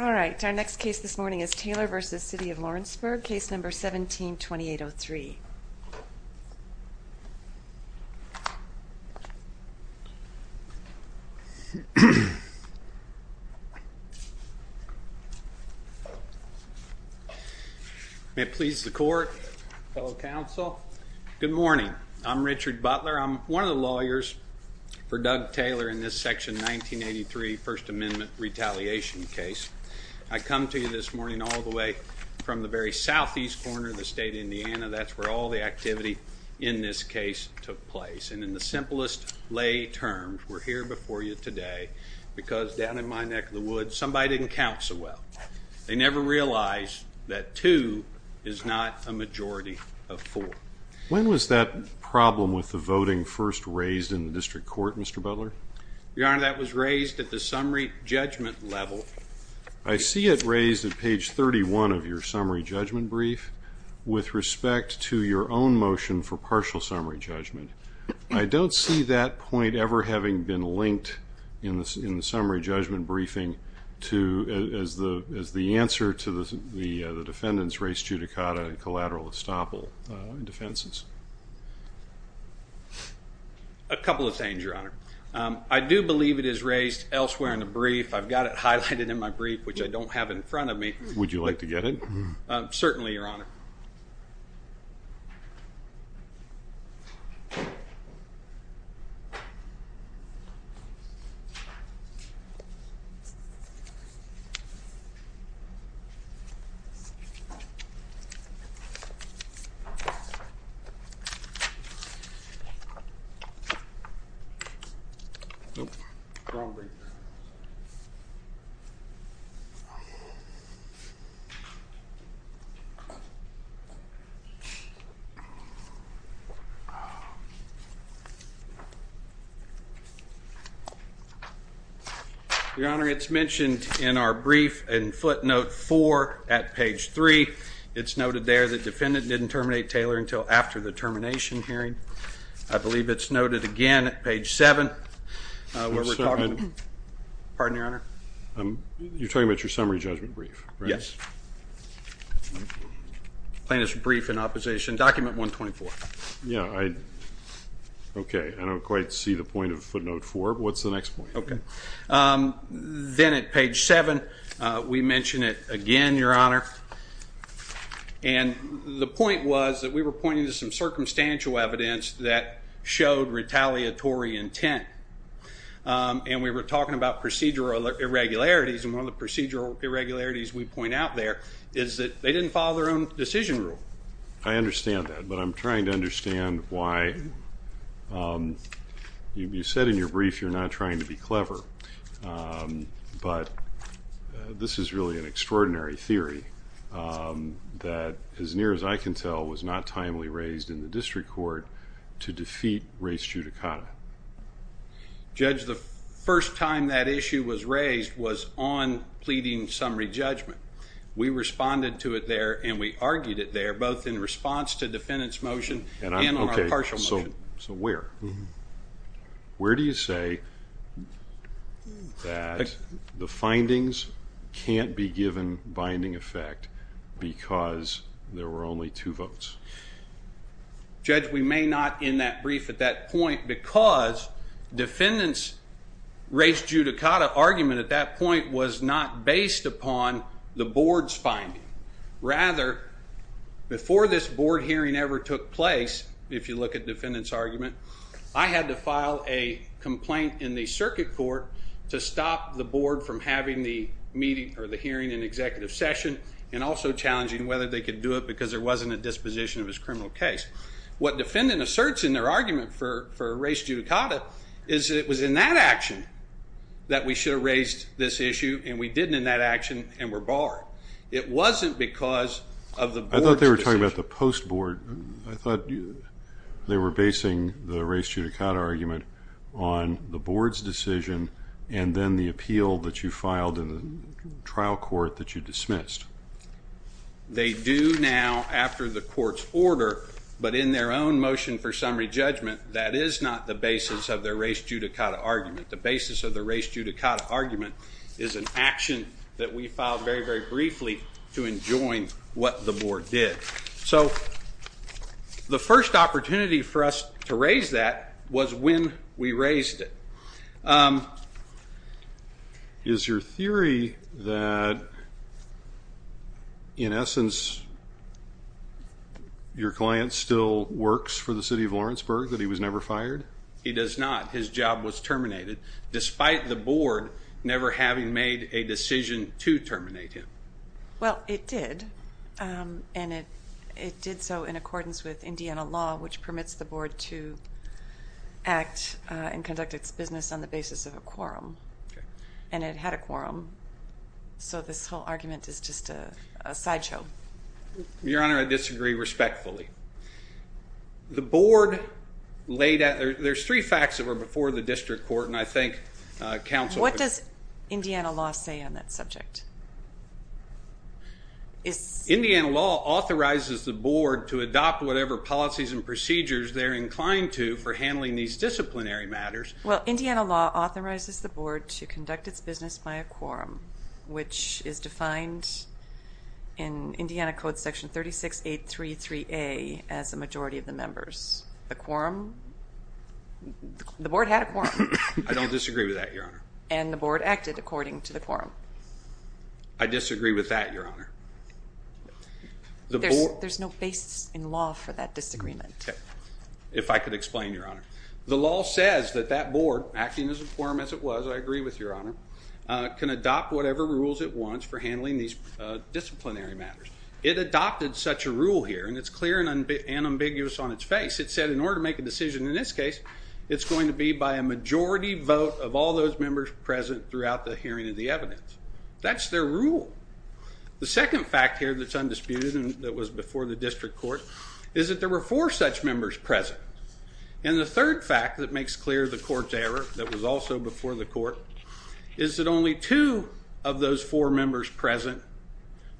All right, our next case this morning is Taylor v. City of Lawrenceburg, case number 17-2803. May it please the court, fellow counsel, good morning. I'm Richard Butler. I'm one of the lawyers for Doug Taylor in this section 1983 First Amendment retaliation case. I come to you this morning all the way from the very southeast corner of the state of Indiana. That's where all the activity in this case took place. And in the simplest lay terms, we're here before you today because down in my neck of the woods, somebody didn't count so well. They never realized that two is not a majority of four. When was that problem with the voting first raised in the district court, Mr. Butler? Your Honor, that was raised at the summary judgment level. I see it raised at page 31 of your summary judgment brief with respect to your own motion for partial summary judgment. I don't see that point ever having been linked in the summary judgment briefing as the answer to the defendant's res judicata and collateral estoppel defenses. A couple of things, Your Honor. I do believe it is raised elsewhere in the brief. I've got it highlighted in my brief, which I don't have in front of me. Would you like to get it? Certainly, Your Honor. Thank you, Your Honor. Your Honor, it's mentioned in our brief and footnote four at page three. It's noted there that defendant didn't terminate Taylor until after the termination hearing. I believe it's noted again at page seven. Pardon, Your Honor. You're talking about your summary judgment brief, right? Yes. Plaintiff's brief in opposition, document 124. Yeah, I don't quite see the point of footnote four. What's the next point? Then at page seven, we mention it again, Your Honor. And the point was that we were pointing to some circumstantial evidence that showed retaliatory intent. And we were talking about procedural irregularities, and one of the procedural irregularities we point out there is that they didn't follow their own decision rule. I understand that, but I'm trying to understand why. You said in your brief you're not trying to be clever, but this is really an extraordinary theory that, as near as I can tell, was not timely raised in the district court to defeat race judicata. Judge, the first time that issue was raised was on pleading summary judgment. We responded to it there, and we argued it there, both in response to defendant's motion and on our partial motion. So where? Where do you say that the findings can't be given binding effect because there were only two votes? Judge, we may not end that brief at that point because defendant's race judicata argument at that point was not based upon the board's finding. Rather, before this board hearing ever took place, if you look at defendant's argument, I had to file a complaint in the circuit court to stop the board from having the meeting or the hearing in executive session and also challenging whether they could do it because there wasn't a disposition of his criminal case. What defendant asserts in their argument for race judicata is that it was in that action that we should have raised this issue, and we didn't in that action and were barred. It wasn't because of the board's decision. I thought they were talking about the post board. I thought they were basing the race judicata argument on the board's decision and then the appeal that you filed in the trial court that you dismissed. They do now after the court's order, but in their own motion for summary judgment, that is not the basis of their race judicata argument. The basis of the race judicata argument is an action that we filed very, very briefly to enjoin what the board did. So the first opportunity for us to raise that was when we raised it. Is your theory that, in essence, your client still works for the city of Lawrenceburg, that he was never fired? He does not. His job was terminated, despite the board never having made a decision to terminate him. Well, it did, and it did so in accordance with Indiana law, which permits the board to act and conduct its business on the basis of a quorum, and it had a quorum. So this whole argument is just a sideshow. Your Honor, I disagree respectfully. The board laid out, there's three facts that were before the district court, and I think counsel. What does Indiana law say on that subject? Indiana law authorizes the board to adopt whatever policies and procedures they're inclined to for handling these disciplinary matters. Well, Indiana law authorizes the board to conduct its business by a quorum, which is defined in Indiana Code Section 36833A as a majority of the members. The quorum? The board had a quorum. I don't disagree with that, Your Honor. And the board acted according to the quorum. I disagree with that, Your Honor. There's no basis in law for that disagreement. If I could explain, Your Honor. The law says that that board, acting as a quorum as it was, I agree with, Your Honor, can adopt whatever rules it wants for handling these disciplinary matters. It adopted such a rule here, and it's clear and ambiguous on its face. It said in order to make a decision in this case, it's going to be by a majority vote of all those members present throughout the hearing of the evidence. That's their rule. The second fact here that's undisputed and that was before the district court is that there were four such members present. And the third fact that makes clear the court's error, that was also before the court, is that only two of those four members present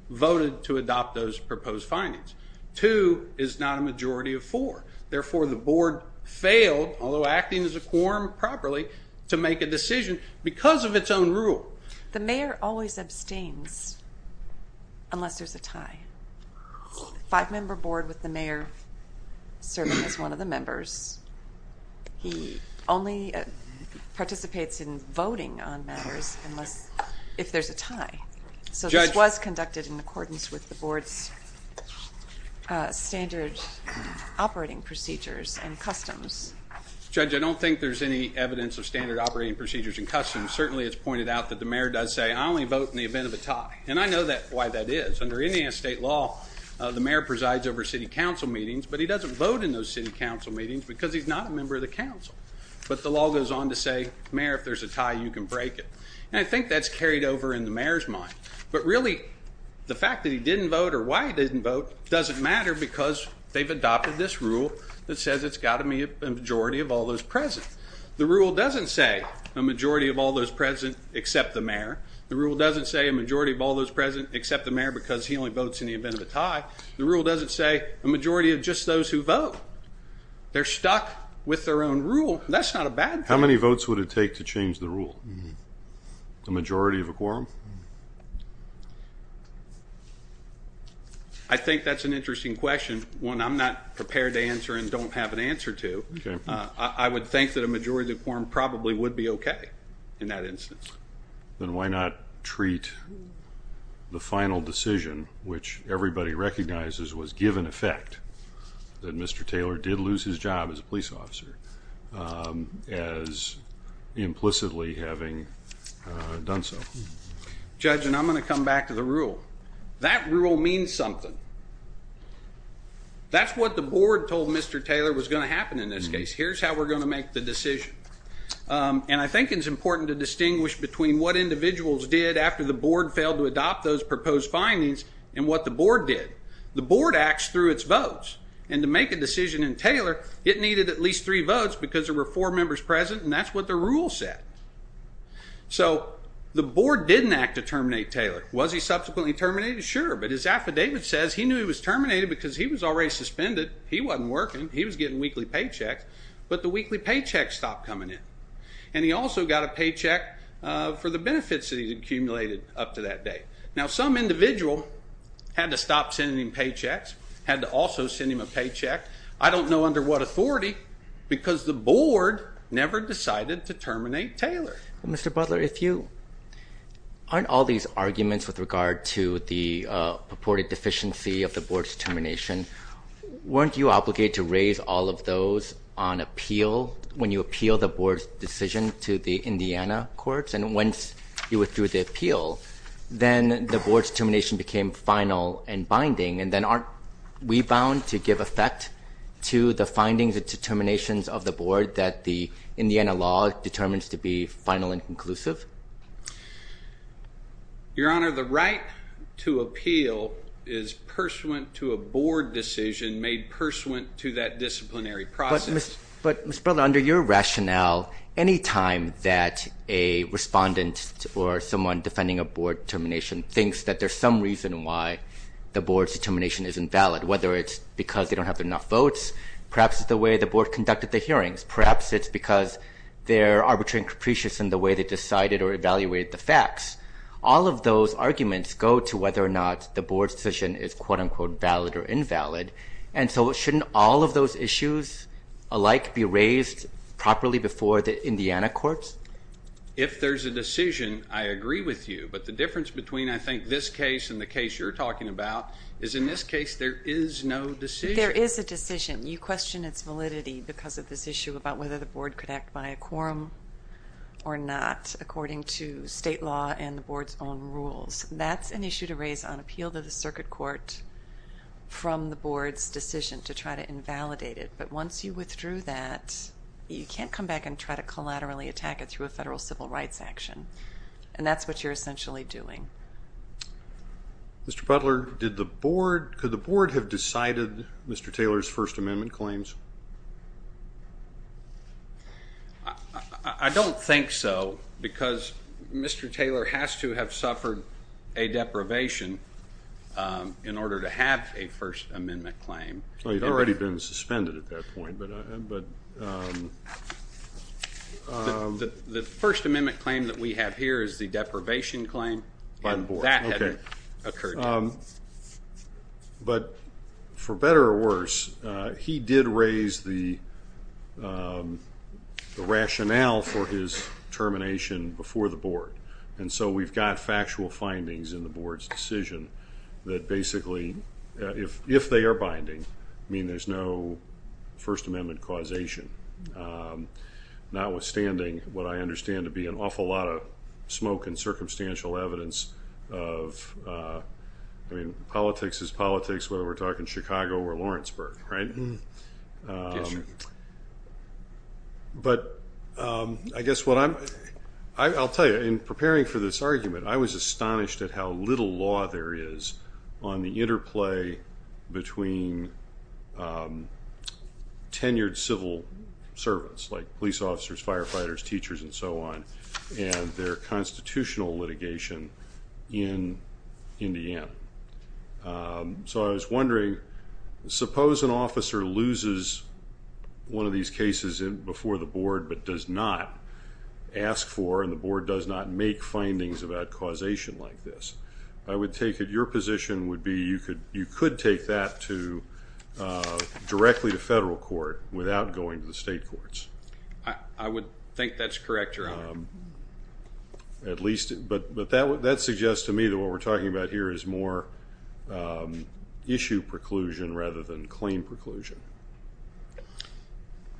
voted to adopt those proposed findings. Two is not a majority of four. Therefore, the board failed, although acting as a quorum properly, to make a decision because of its own rule. The mayor always abstains unless there's a tie. The five-member board with the mayor serving as one of the members, he only participates in voting on matters if there's a tie. So this was conducted in accordance with the board's standard operating procedures and customs. Judge, I don't think there's any evidence of standard operating procedures and customs. Certainly, it's pointed out that the mayor does say, I only vote in the event of a tie. And I know why that is. Under Indiana state law, the mayor presides over city council meetings, but he doesn't vote in those city council meetings because he's not a member of the council. But the law goes on to say, Mayor, if there's a tie, you can break it. And I think that's carried over in the mayor's mind. But really, the fact that he didn't vote or why he didn't vote doesn't matter because they've adopted this rule that says it's got to be a majority of all those present. The rule doesn't say a majority of all those present except the mayor. The rule doesn't say a majority of all those present except the mayor because he only votes in the event of a tie. The rule doesn't say a majority of just those who vote. They're stuck with their own rule. That's not a bad thing. How many votes would it take to change the rule? The majority of a quorum? I think that's an interesting question, one I'm not prepared to answer and don't have an answer to. I would think that a majority of the quorum probably would be okay in that instance. Then why not treat the final decision, which everybody recognizes was given effect, that Mr. Taylor did lose his job as a police officer as implicitly having done so? Judge, and I'm going to come back to the rule. That rule means something. That's what the board told Mr. Taylor was going to happen in this case. Here's how we're going to make the decision. I think it's important to distinguish between what individuals did after the board failed to adopt those proposed findings and what the board did. The board acts through its votes. To make a decision in Taylor, it needed at least three votes because there were four members present, and that's what the rule said. The board didn't act to terminate Taylor. Was he subsequently terminated? Sure, but his affidavit says he knew he was terminated because he was already suspended. He wasn't working. He was getting weekly paychecks. But the weekly paychecks stopped coming in, and he also got a paycheck for the benefits that he'd accumulated up to that date. Now, some individual had to stop sending him paychecks, had to also send him a paycheck. I don't know under what authority because the board never decided to terminate Taylor. Mr. Butler, aren't all these arguments with regard to the purported deficiency of the board's determination, weren't you obligated to raise all of those on appeal when you appealed the board's decision to the Indiana courts? And once you withdrew the appeal, then the board's determination became final and binding, and then aren't we bound to give effect to the findings and determinations of the board that the Indiana law determines to be final and conclusive? Your Honor, the right to appeal is pursuant to a board decision made pursuant to that disciplinary process. But, Mr. Butler, under your rationale, any time that a respondent or someone defending a board termination thinks that there's some reason why the board's determination isn't valid, whether it's because they don't have enough votes, perhaps it's the way the board conducted the hearings, perhaps it's because they're arbitrary and capricious in the way they decided or evaluated the facts, all of those arguments go to whether or not the board's decision is quote-unquote valid or invalid. And so shouldn't all of those issues alike be raised properly before the Indiana courts? If there's a decision, I agree with you. But the difference between, I think, this case and the case you're talking about is in this case there is no decision. There is a decision. You question its validity because of this issue about whether the board could act by a quorum or not, according to state law and the board's own rules. That's an issue to raise on appeal to the circuit court from the board's decision to try to invalidate it. But once you withdrew that, you can't come back and try to collaterally attack it through a federal civil rights action. And that's what you're essentially doing. Mr. Butler, could the board have decided Mr. Taylor's First Amendment claims? I don't think so because Mr. Taylor has to have suffered a deprivation in order to have a First Amendment claim. Well, he'd already been suspended at that point. The First Amendment claim that we have here is the deprivation claim. But for better or worse, he did raise the rationale for his termination before the board. And so we've got factual findings in the board's decision that basically, if they are binding, mean there's no First Amendment causation, notwithstanding what I understand to be an awful lot of smoke and circumstantial evidence of, I mean, politics is politics, whether we're talking Chicago or Lawrenceburg, right? But I guess what I'm, I'll tell you, in preparing for this argument, I was astonished at how little law there is on the interplay between tenured civil servants, like police officers, firefighters, teachers, and so on, and their constitutional litigation in Indiana. So I was wondering, suppose an officer loses one of these cases before the board but does not ask for, and the board does not make findings about causation like this. I would take it your position would be you could take that directly to federal court without going to the state courts. I would think that's correct, Your Honor. At least, but that suggests to me that what we're talking about here is more issue preclusion rather than claim preclusion.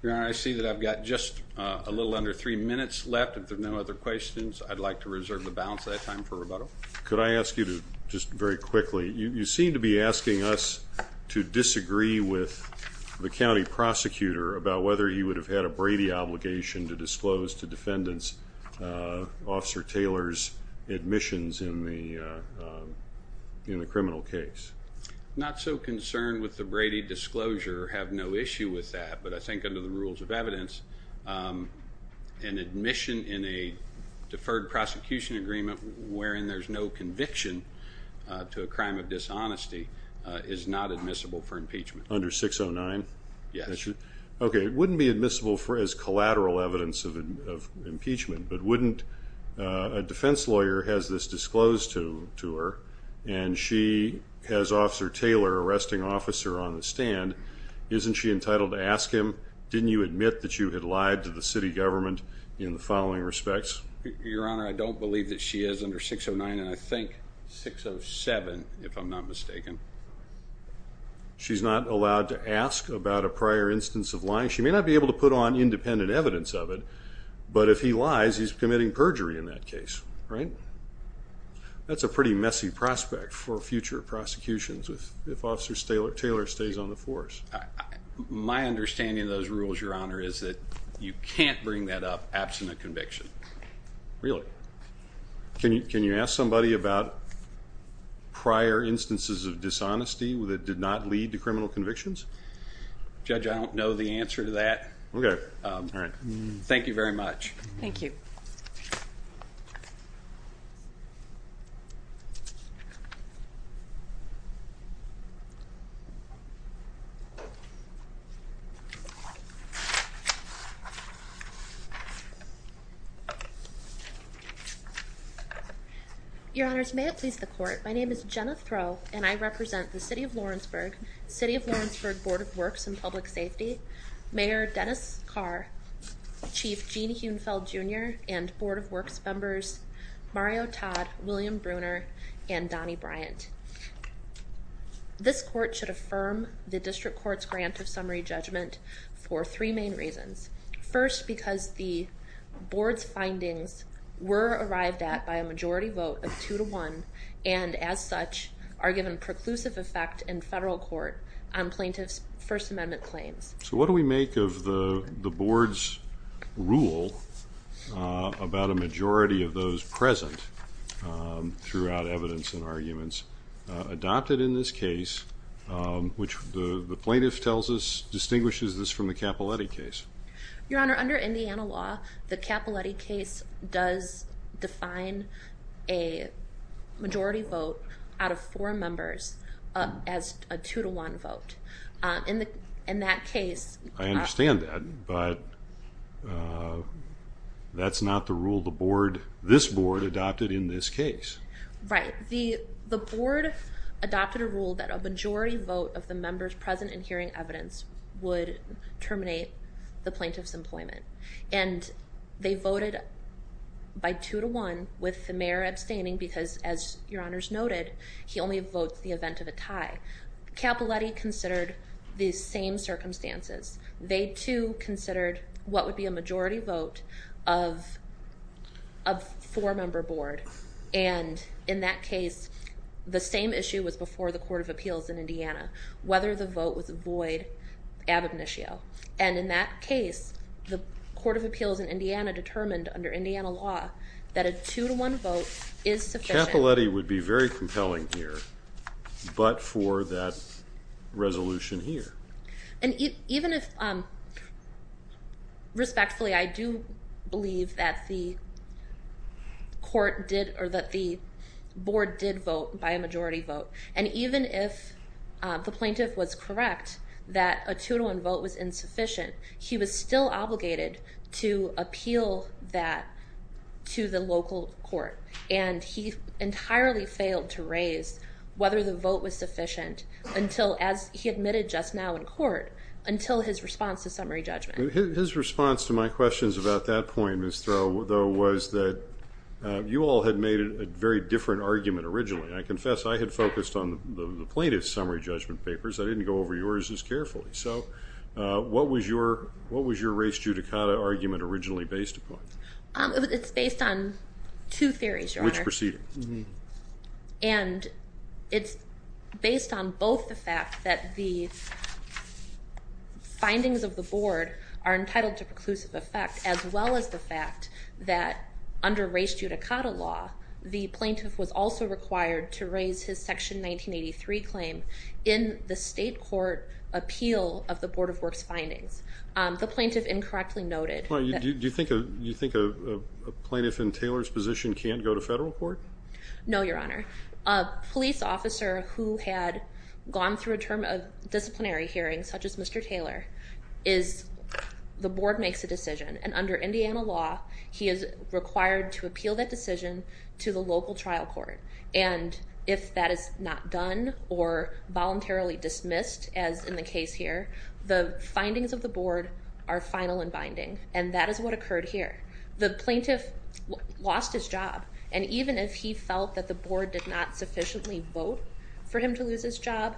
Your Honor, I see that I've got just a little under three minutes left. If there are no other questions, I'd like to reserve the balance of that time for rebuttal. Could I ask you to, just very quickly, you seem to be asking us to disagree with the county prosecutor about whether he would have had a Brady obligation to disclose to defendants Officer Taylor's admissions in the criminal case. I'm not so concerned with the Brady disclosure. I have no issue with that, but I think under the rules of evidence, an admission in a deferred prosecution agreement wherein there's no conviction to a crime of dishonesty is not admissible for impeachment. Under 609? Yes. Okay, it wouldn't be admissible as collateral evidence of impeachment, but wouldn't a defense lawyer has this disclosed to her and she has Officer Taylor, arresting officer on the stand, isn't she entitled to ask him, didn't you admit that you had lied to the city government in the following respects? Your Honor, I don't believe that she is under 609 and I think 607, if I'm not mistaken. She's not allowed to ask about a prior instance of lying? She may not be able to put on independent evidence of it, but if he lies, he's committing perjury in that case, right? That's a pretty messy prospect for future prosecutions if Officer Taylor stays on the force. My understanding of those rules, Your Honor, is that you can't bring that up absent a conviction. Really? Can you ask somebody about prior instances of dishonesty that did not lead to criminal convictions? Judge, I don't know the answer to that. Okay. Thank you very much. Thank you. Your Honors, may it please the court. My name is Jenna Throw and I represent the City of Lawrenceburg, City of Lawrenceburg Board of Works and Public Safety. Mayor Dennis Carr, Chief Gene Huenfeld Jr., and Board of Works members Mario Todd, William Bruner, and Donny Bryant. This court should affirm the district court's grant of summary judgment for three main reasons. First, because the board's findings were arrived at by a majority vote of two to one, and as such are given preclusive effect in federal court on plaintiff's First Amendment claims. So what do we make of the board's rule about a majority of those present throughout evidence and arguments adopted in this case, which the plaintiff tells us distinguishes this from the Capiletti case? Your Honor, under Indiana law, the Capiletti case does define a majority vote out of four members as a two to one vote. In that case... I understand that, but that's not the rule the board, this board, adopted in this case. Right. The board adopted a rule that a majority vote of the members present in hearing evidence would terminate the plaintiff's employment. And they voted by two to one with the mayor abstaining because, as Your Honor's noted, he only votes the event of a tie. Capiletti considered the same circumstances. They, too, considered what would be a majority vote of a four-member board. And in that case, the same issue was before the Court of Appeals in Indiana, whether the vote was void ad obitio. And in that case, the Court of Appeals in Indiana determined under Indiana law that a two to one vote is sufficient... Capiletti would be very compelling here, but for that resolution here. And even if... Respectfully, I do believe that the board did vote by a majority vote. And even if the plaintiff was correct that a two to one vote was insufficient, he was still obligated to appeal that to the local court. And he entirely failed to raise whether the vote was sufficient until, as he admitted just now in court, until his response to summary judgment. His response to my questions about that point, Ms. Throw, though, was that you all had made a very different argument originally. I confess I had focused on the plaintiff's summary judgment papers. I didn't go over yours as carefully. So what was your race judicata argument originally based upon? It's based on two theories, Your Honor. Which proceeding? And it's based on both the fact that the findings of the board are entitled to preclusive effect, as well as the fact that under race judicata law, the plaintiff was also required to raise his Section 1983 claim in the state court appeal of the Board of Works findings. The plaintiff incorrectly noted that... Do you think a plaintiff in Taylor's position can't go to federal court? No, Your Honor. A police officer who had gone through a term of disciplinary hearings, such as Mr. Taylor, is the board makes a decision. And under Indiana law, he is required to appeal that decision to the local trial court. And if that is not done or voluntarily dismissed, as in the case here, the findings of the board are final and binding. And that is what occurred here. The plaintiff lost his job. And even if he felt that the board did not sufficiently vote for him to lose his job,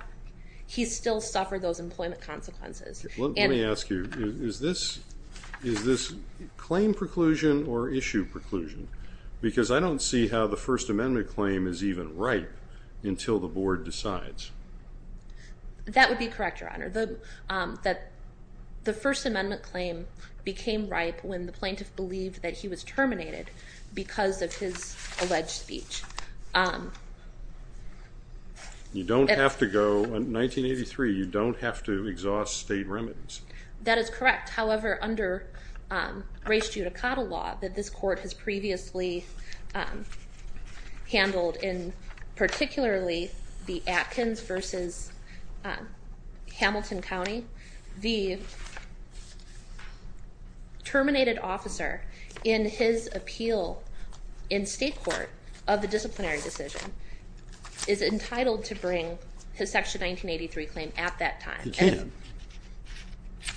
he still suffered those employment consequences. Let me ask you, is this claim preclusion or issue preclusion? Because I don't see how the First Amendment claim is even ripe until the board decides. That would be correct, Your Honor. The First Amendment claim became ripe when the plaintiff believed that he was terminated because of his alleged speech. You don't have to go... In 1983, you don't have to exhaust state remedies. That is correct. However, under race judicata law that this court has previously handled in particularly the Atkins versus Hamilton County, the terminated officer in his appeal in state court of the disciplinary decision is entitled to bring his Section 1983 claim at that time. He can.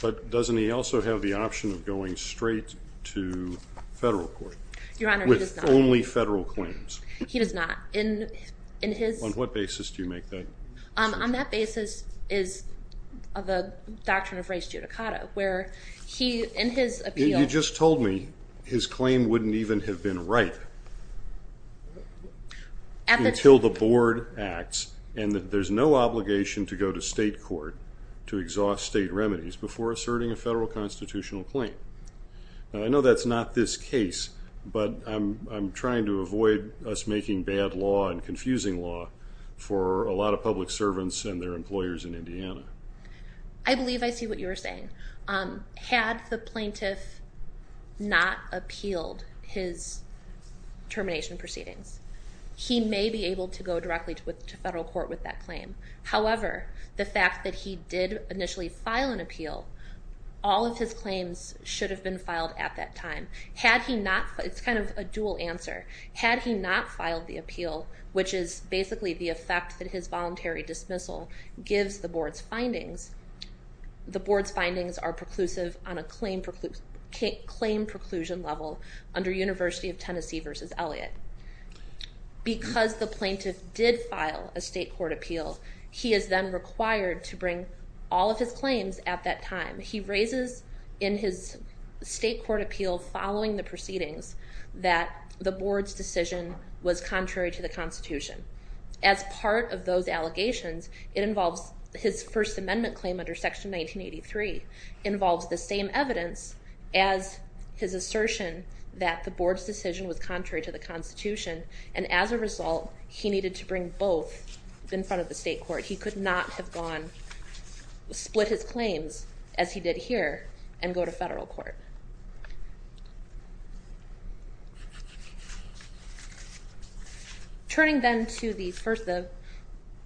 But doesn't he also have the option of going straight to federal court? Your Honor, he does not. With only federal claims. He does not. On what basis do you make that? On that basis is the doctrine of race judicata where he, in his appeal... He just told me his claim wouldn't even have been ripe until the board acts and that there's no obligation to go to state court to exhaust state remedies before asserting a federal constitutional claim. Now, I know that's not this case, but I'm trying to avoid us making bad law and confusing law for a lot of public servants and their employers in Indiana. I believe I see what you're saying. Had the plaintiff not appealed his termination proceedings, he may be able to go directly to federal court with that claim. However, the fact that he did initially file an appeal, all of his claims should have been filed at that time. It's kind of a dual answer. Had he not filed the appeal, which is basically the effect that his voluntary dismissal gives the board's findings, the board's findings are preclusive on a claim preclusion level under University of Tennessee v. Elliott. Because the plaintiff did file a state court appeal, he is then required to bring all of his claims at that time. He raises in his state court appeal following the proceedings that the board's decision was contrary to the Constitution. As part of those allegations, his First Amendment claim under Section 1983 involves the same evidence as his assertion that the board's decision was contrary to the Constitution. And as a result, he needed to bring both in front of the state court. He could not have split his claims as he did here and go to federal court.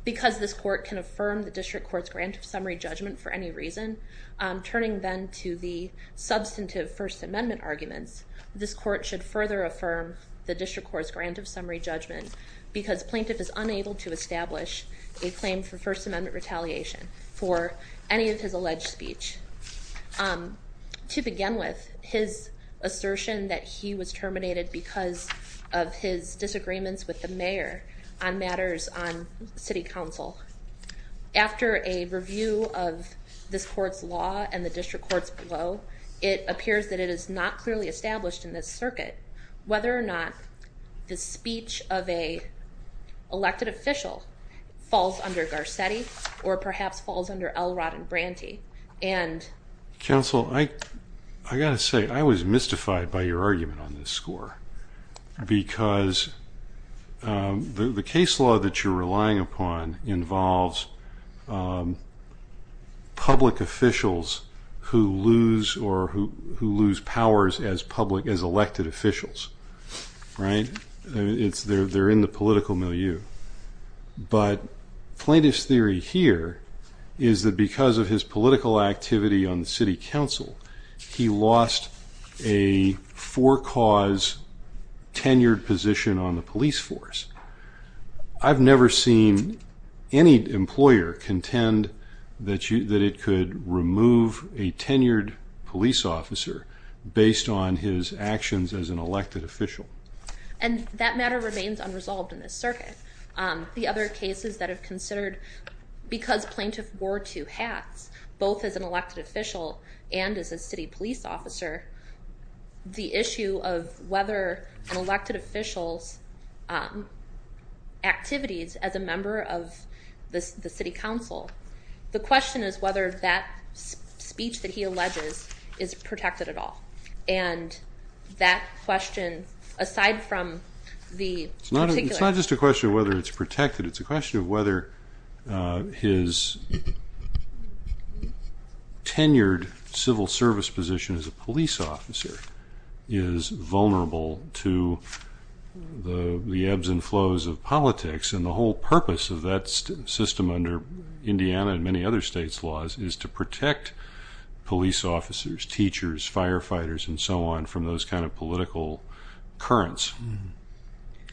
Because this court can affirm the district court's grant of summary judgment for any reason, turning then to the substantive First Amendment arguments, this court should further affirm the district court's grant of summary judgment because plaintiff is unable to establish a claim for First Amendment retaliation for any of his alleged speech. To begin with, his assertion that he was terminated because of his disagreements with the mayor on matters on city council. After a review of this court's law and the district court's blow, it appears that it is not clearly established in this circuit whether or not the speech of an elected official falls under Garcetti or perhaps falls under Elrod and Branty. Counsel, I got to say, I was mystified by your argument on this score. Because the case law that you're relying upon involves public officials who lose powers as elected officials. They're in the political milieu. But plaintiff's theory here is that because of his political activity on the city council, he lost a for-cause tenured position on the police force. I've never seen any employer contend that it could remove a tenured police officer based on his actions as an elected official. And that matter remains unresolved in this circuit. The other cases that have considered, because plaintiff wore two hats, both as an elected official and as a city police officer, the issue of whether an elected official's activities as a member of the city council, the question is whether that speech that he alleges is protected at all. And that question, aside from the particular... It's not just a question of whether it's protected. It's a question of whether his tenured civil service position as a police officer is vulnerable to the ebbs and flows of politics. And the whole purpose of that system under Indiana and many other states' laws is to protect police officers, teachers, firefighters, and so on, from those kind of political currents.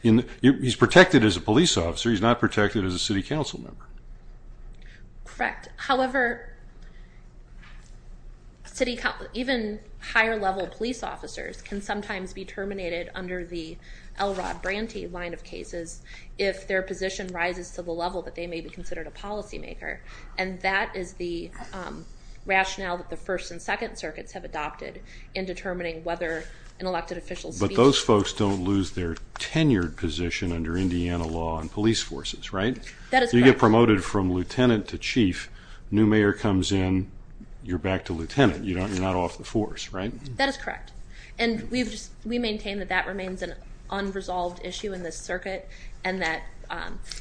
He's protected as a police officer. He's not protected as a city council member. Correct. However, even higher-level police officers can sometimes be terminated under the Elrod Branty line of cases if their position rises to the level that they may be considered a policymaker. And that is the rationale that the first and second circuits have adopted in determining whether an elected official's speech... But those folks don't lose their tenured position under Indiana law on police forces, right? That is correct. You get promoted from lieutenant to chief. New mayor comes in, you're back to lieutenant. You're not off the force, right? That is correct. And we maintain that that remains an unresolved issue in this circuit, and that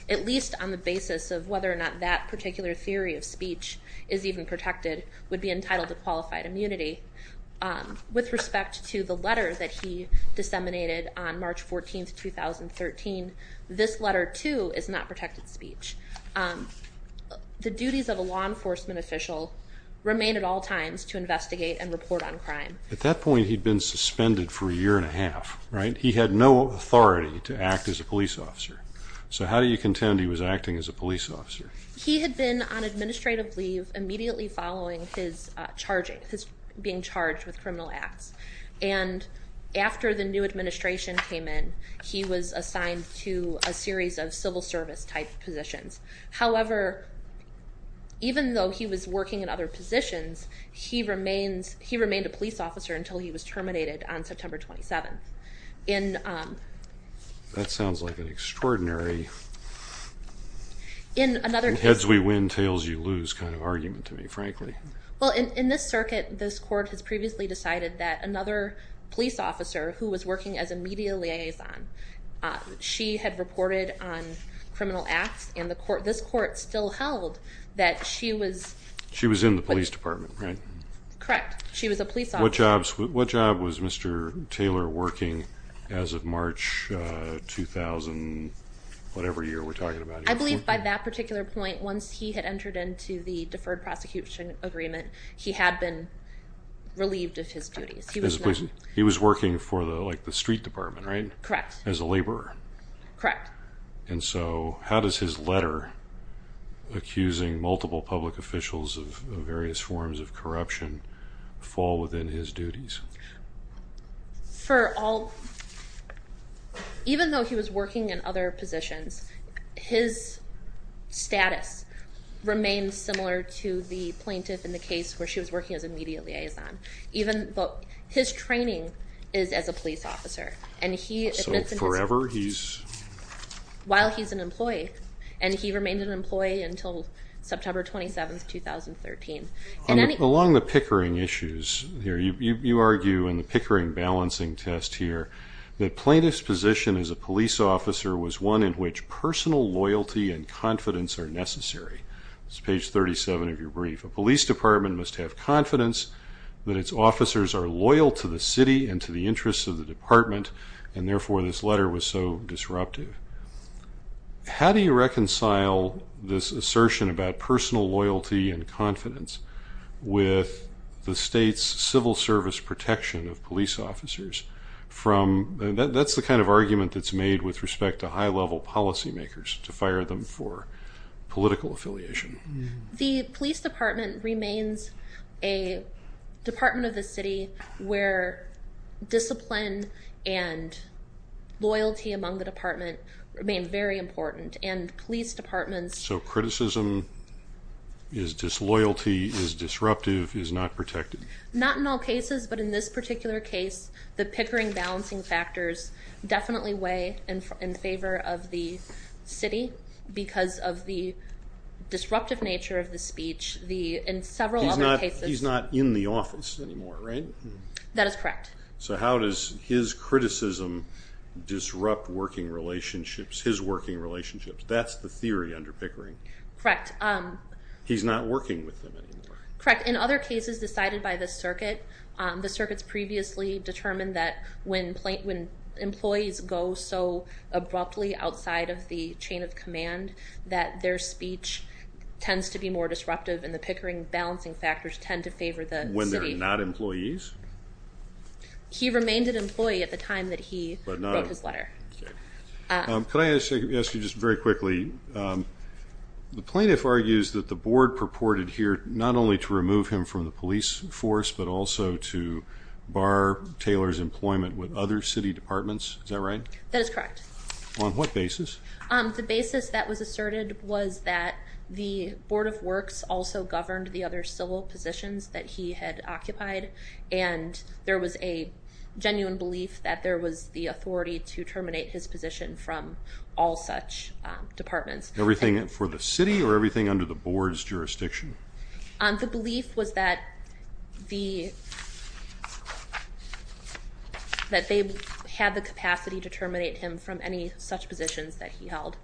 at least on the basis of whether or not that particular theory of speech is even protected would be entitled to qualified immunity. With respect to the letter that he disseminated on March 14, 2013, this letter, too, is not protected speech. The duties of a law enforcement official remain at all times to investigate and report on crime. At that point, he'd been suspended for a year and a half, right? He had no authority to act as a police officer. So how do you contend he was acting as a police officer? He had been on administrative leave immediately following his being charged with criminal acts. And after the new administration came in, he was assigned to a series of civil service-type positions. However, even though he was working in other positions, he remained a police officer until he was terminated on September 27. That sounds like an extraordinary heads-we-win, tails-you-lose kind of argument to me, frankly. Well, in this circuit, this court has previously decided that another police officer who was working as a media liaison, she had reported on criminal acts, and this court still held that she was She was in the police department, right? Correct. She was a police officer. What job was Mr. Taylor working as of March 2000, whatever year we're talking about here? I believe by that particular point, once he had entered into the deferred prosecution agreement, he had been relieved of his duties. He was working for the street department, right? Correct. As a laborer. Correct. And so how does his letter accusing multiple public officials of various forms of corruption fall within his duties? For all, even though he was working in other positions, his status remained similar to the plaintiff in the case where she was working as a media liaison, even though his training is as a police officer. So forever he's... While he's an employee. And he remained an employee until September 27, 2013. Along the Pickering issues here, you argue in the Pickering balancing test here, that plaintiff's position as a police officer was one in which personal loyalty and confidence are necessary. This is page 37 of your brief. A police department must have confidence that its officers are loyal to the city and to the interests of the department, and therefore this letter was so disruptive. How do you reconcile this assertion about personal loyalty and confidence with the state's civil service protection of police officers from... That's the kind of argument that's made with respect to high-level policymakers, to fire them for political affiliation. The police department remains a department of the city where discipline and loyalty among the department remain very important, and police departments... So criticism is disloyalty, is disruptive, is not protected. Not in all cases, but in this particular case, the Pickering balancing factors definitely weigh in favor of the city because of the disruptive nature of the speech. In several other cases... He's not in the office anymore, right? That is correct. So how does his criticism disrupt working relationships, his working relationships? That's the theory under Pickering. Correct. He's not working with them anymore. Correct. In other cases decided by the circuit, the circuit's previously determined that when employees go so abruptly outside of the chain of command that their speech tends to be more disruptive and the Pickering balancing factors tend to favor the city. When they're not employees? He remained an employee at the time that he wrote his letter. Can I ask you just very quickly, the plaintiff argues that the board purported here not only to remove him from the police force but also to bar Taylor's employment with other city departments. Is that right? That is correct. On what basis? The basis that was asserted was that the Board of Works also governed the other civil positions that he had occupied, and there was a genuine belief that there was the authority to terminate his position from all such departments. Everything for the city or everything under the board's jurisdiction? The belief was that they had the capacity to terminate him from any such positions that he held.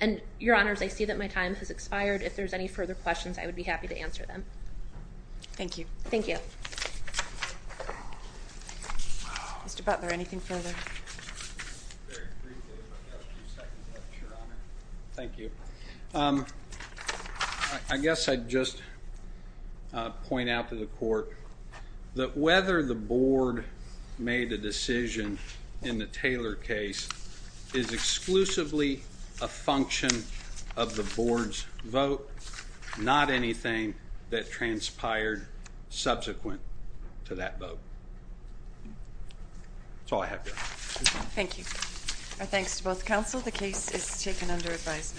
And, Your Honors, I see that my time has expired. If there's any further questions, I would be happy to answer them. Thank you. Thank you. Mr. Butler, anything further? Very briefly, if I have a few seconds left, Your Honor. Thank you. I guess I'd just point out to the court that whether the board made a decision in the Taylor case is exclusively a function of the board's vote, not anything that transpired subsequent to that vote. That's all I have, Your Honor. Thank you. Our thanks to both counsel. The case is taken under advisement.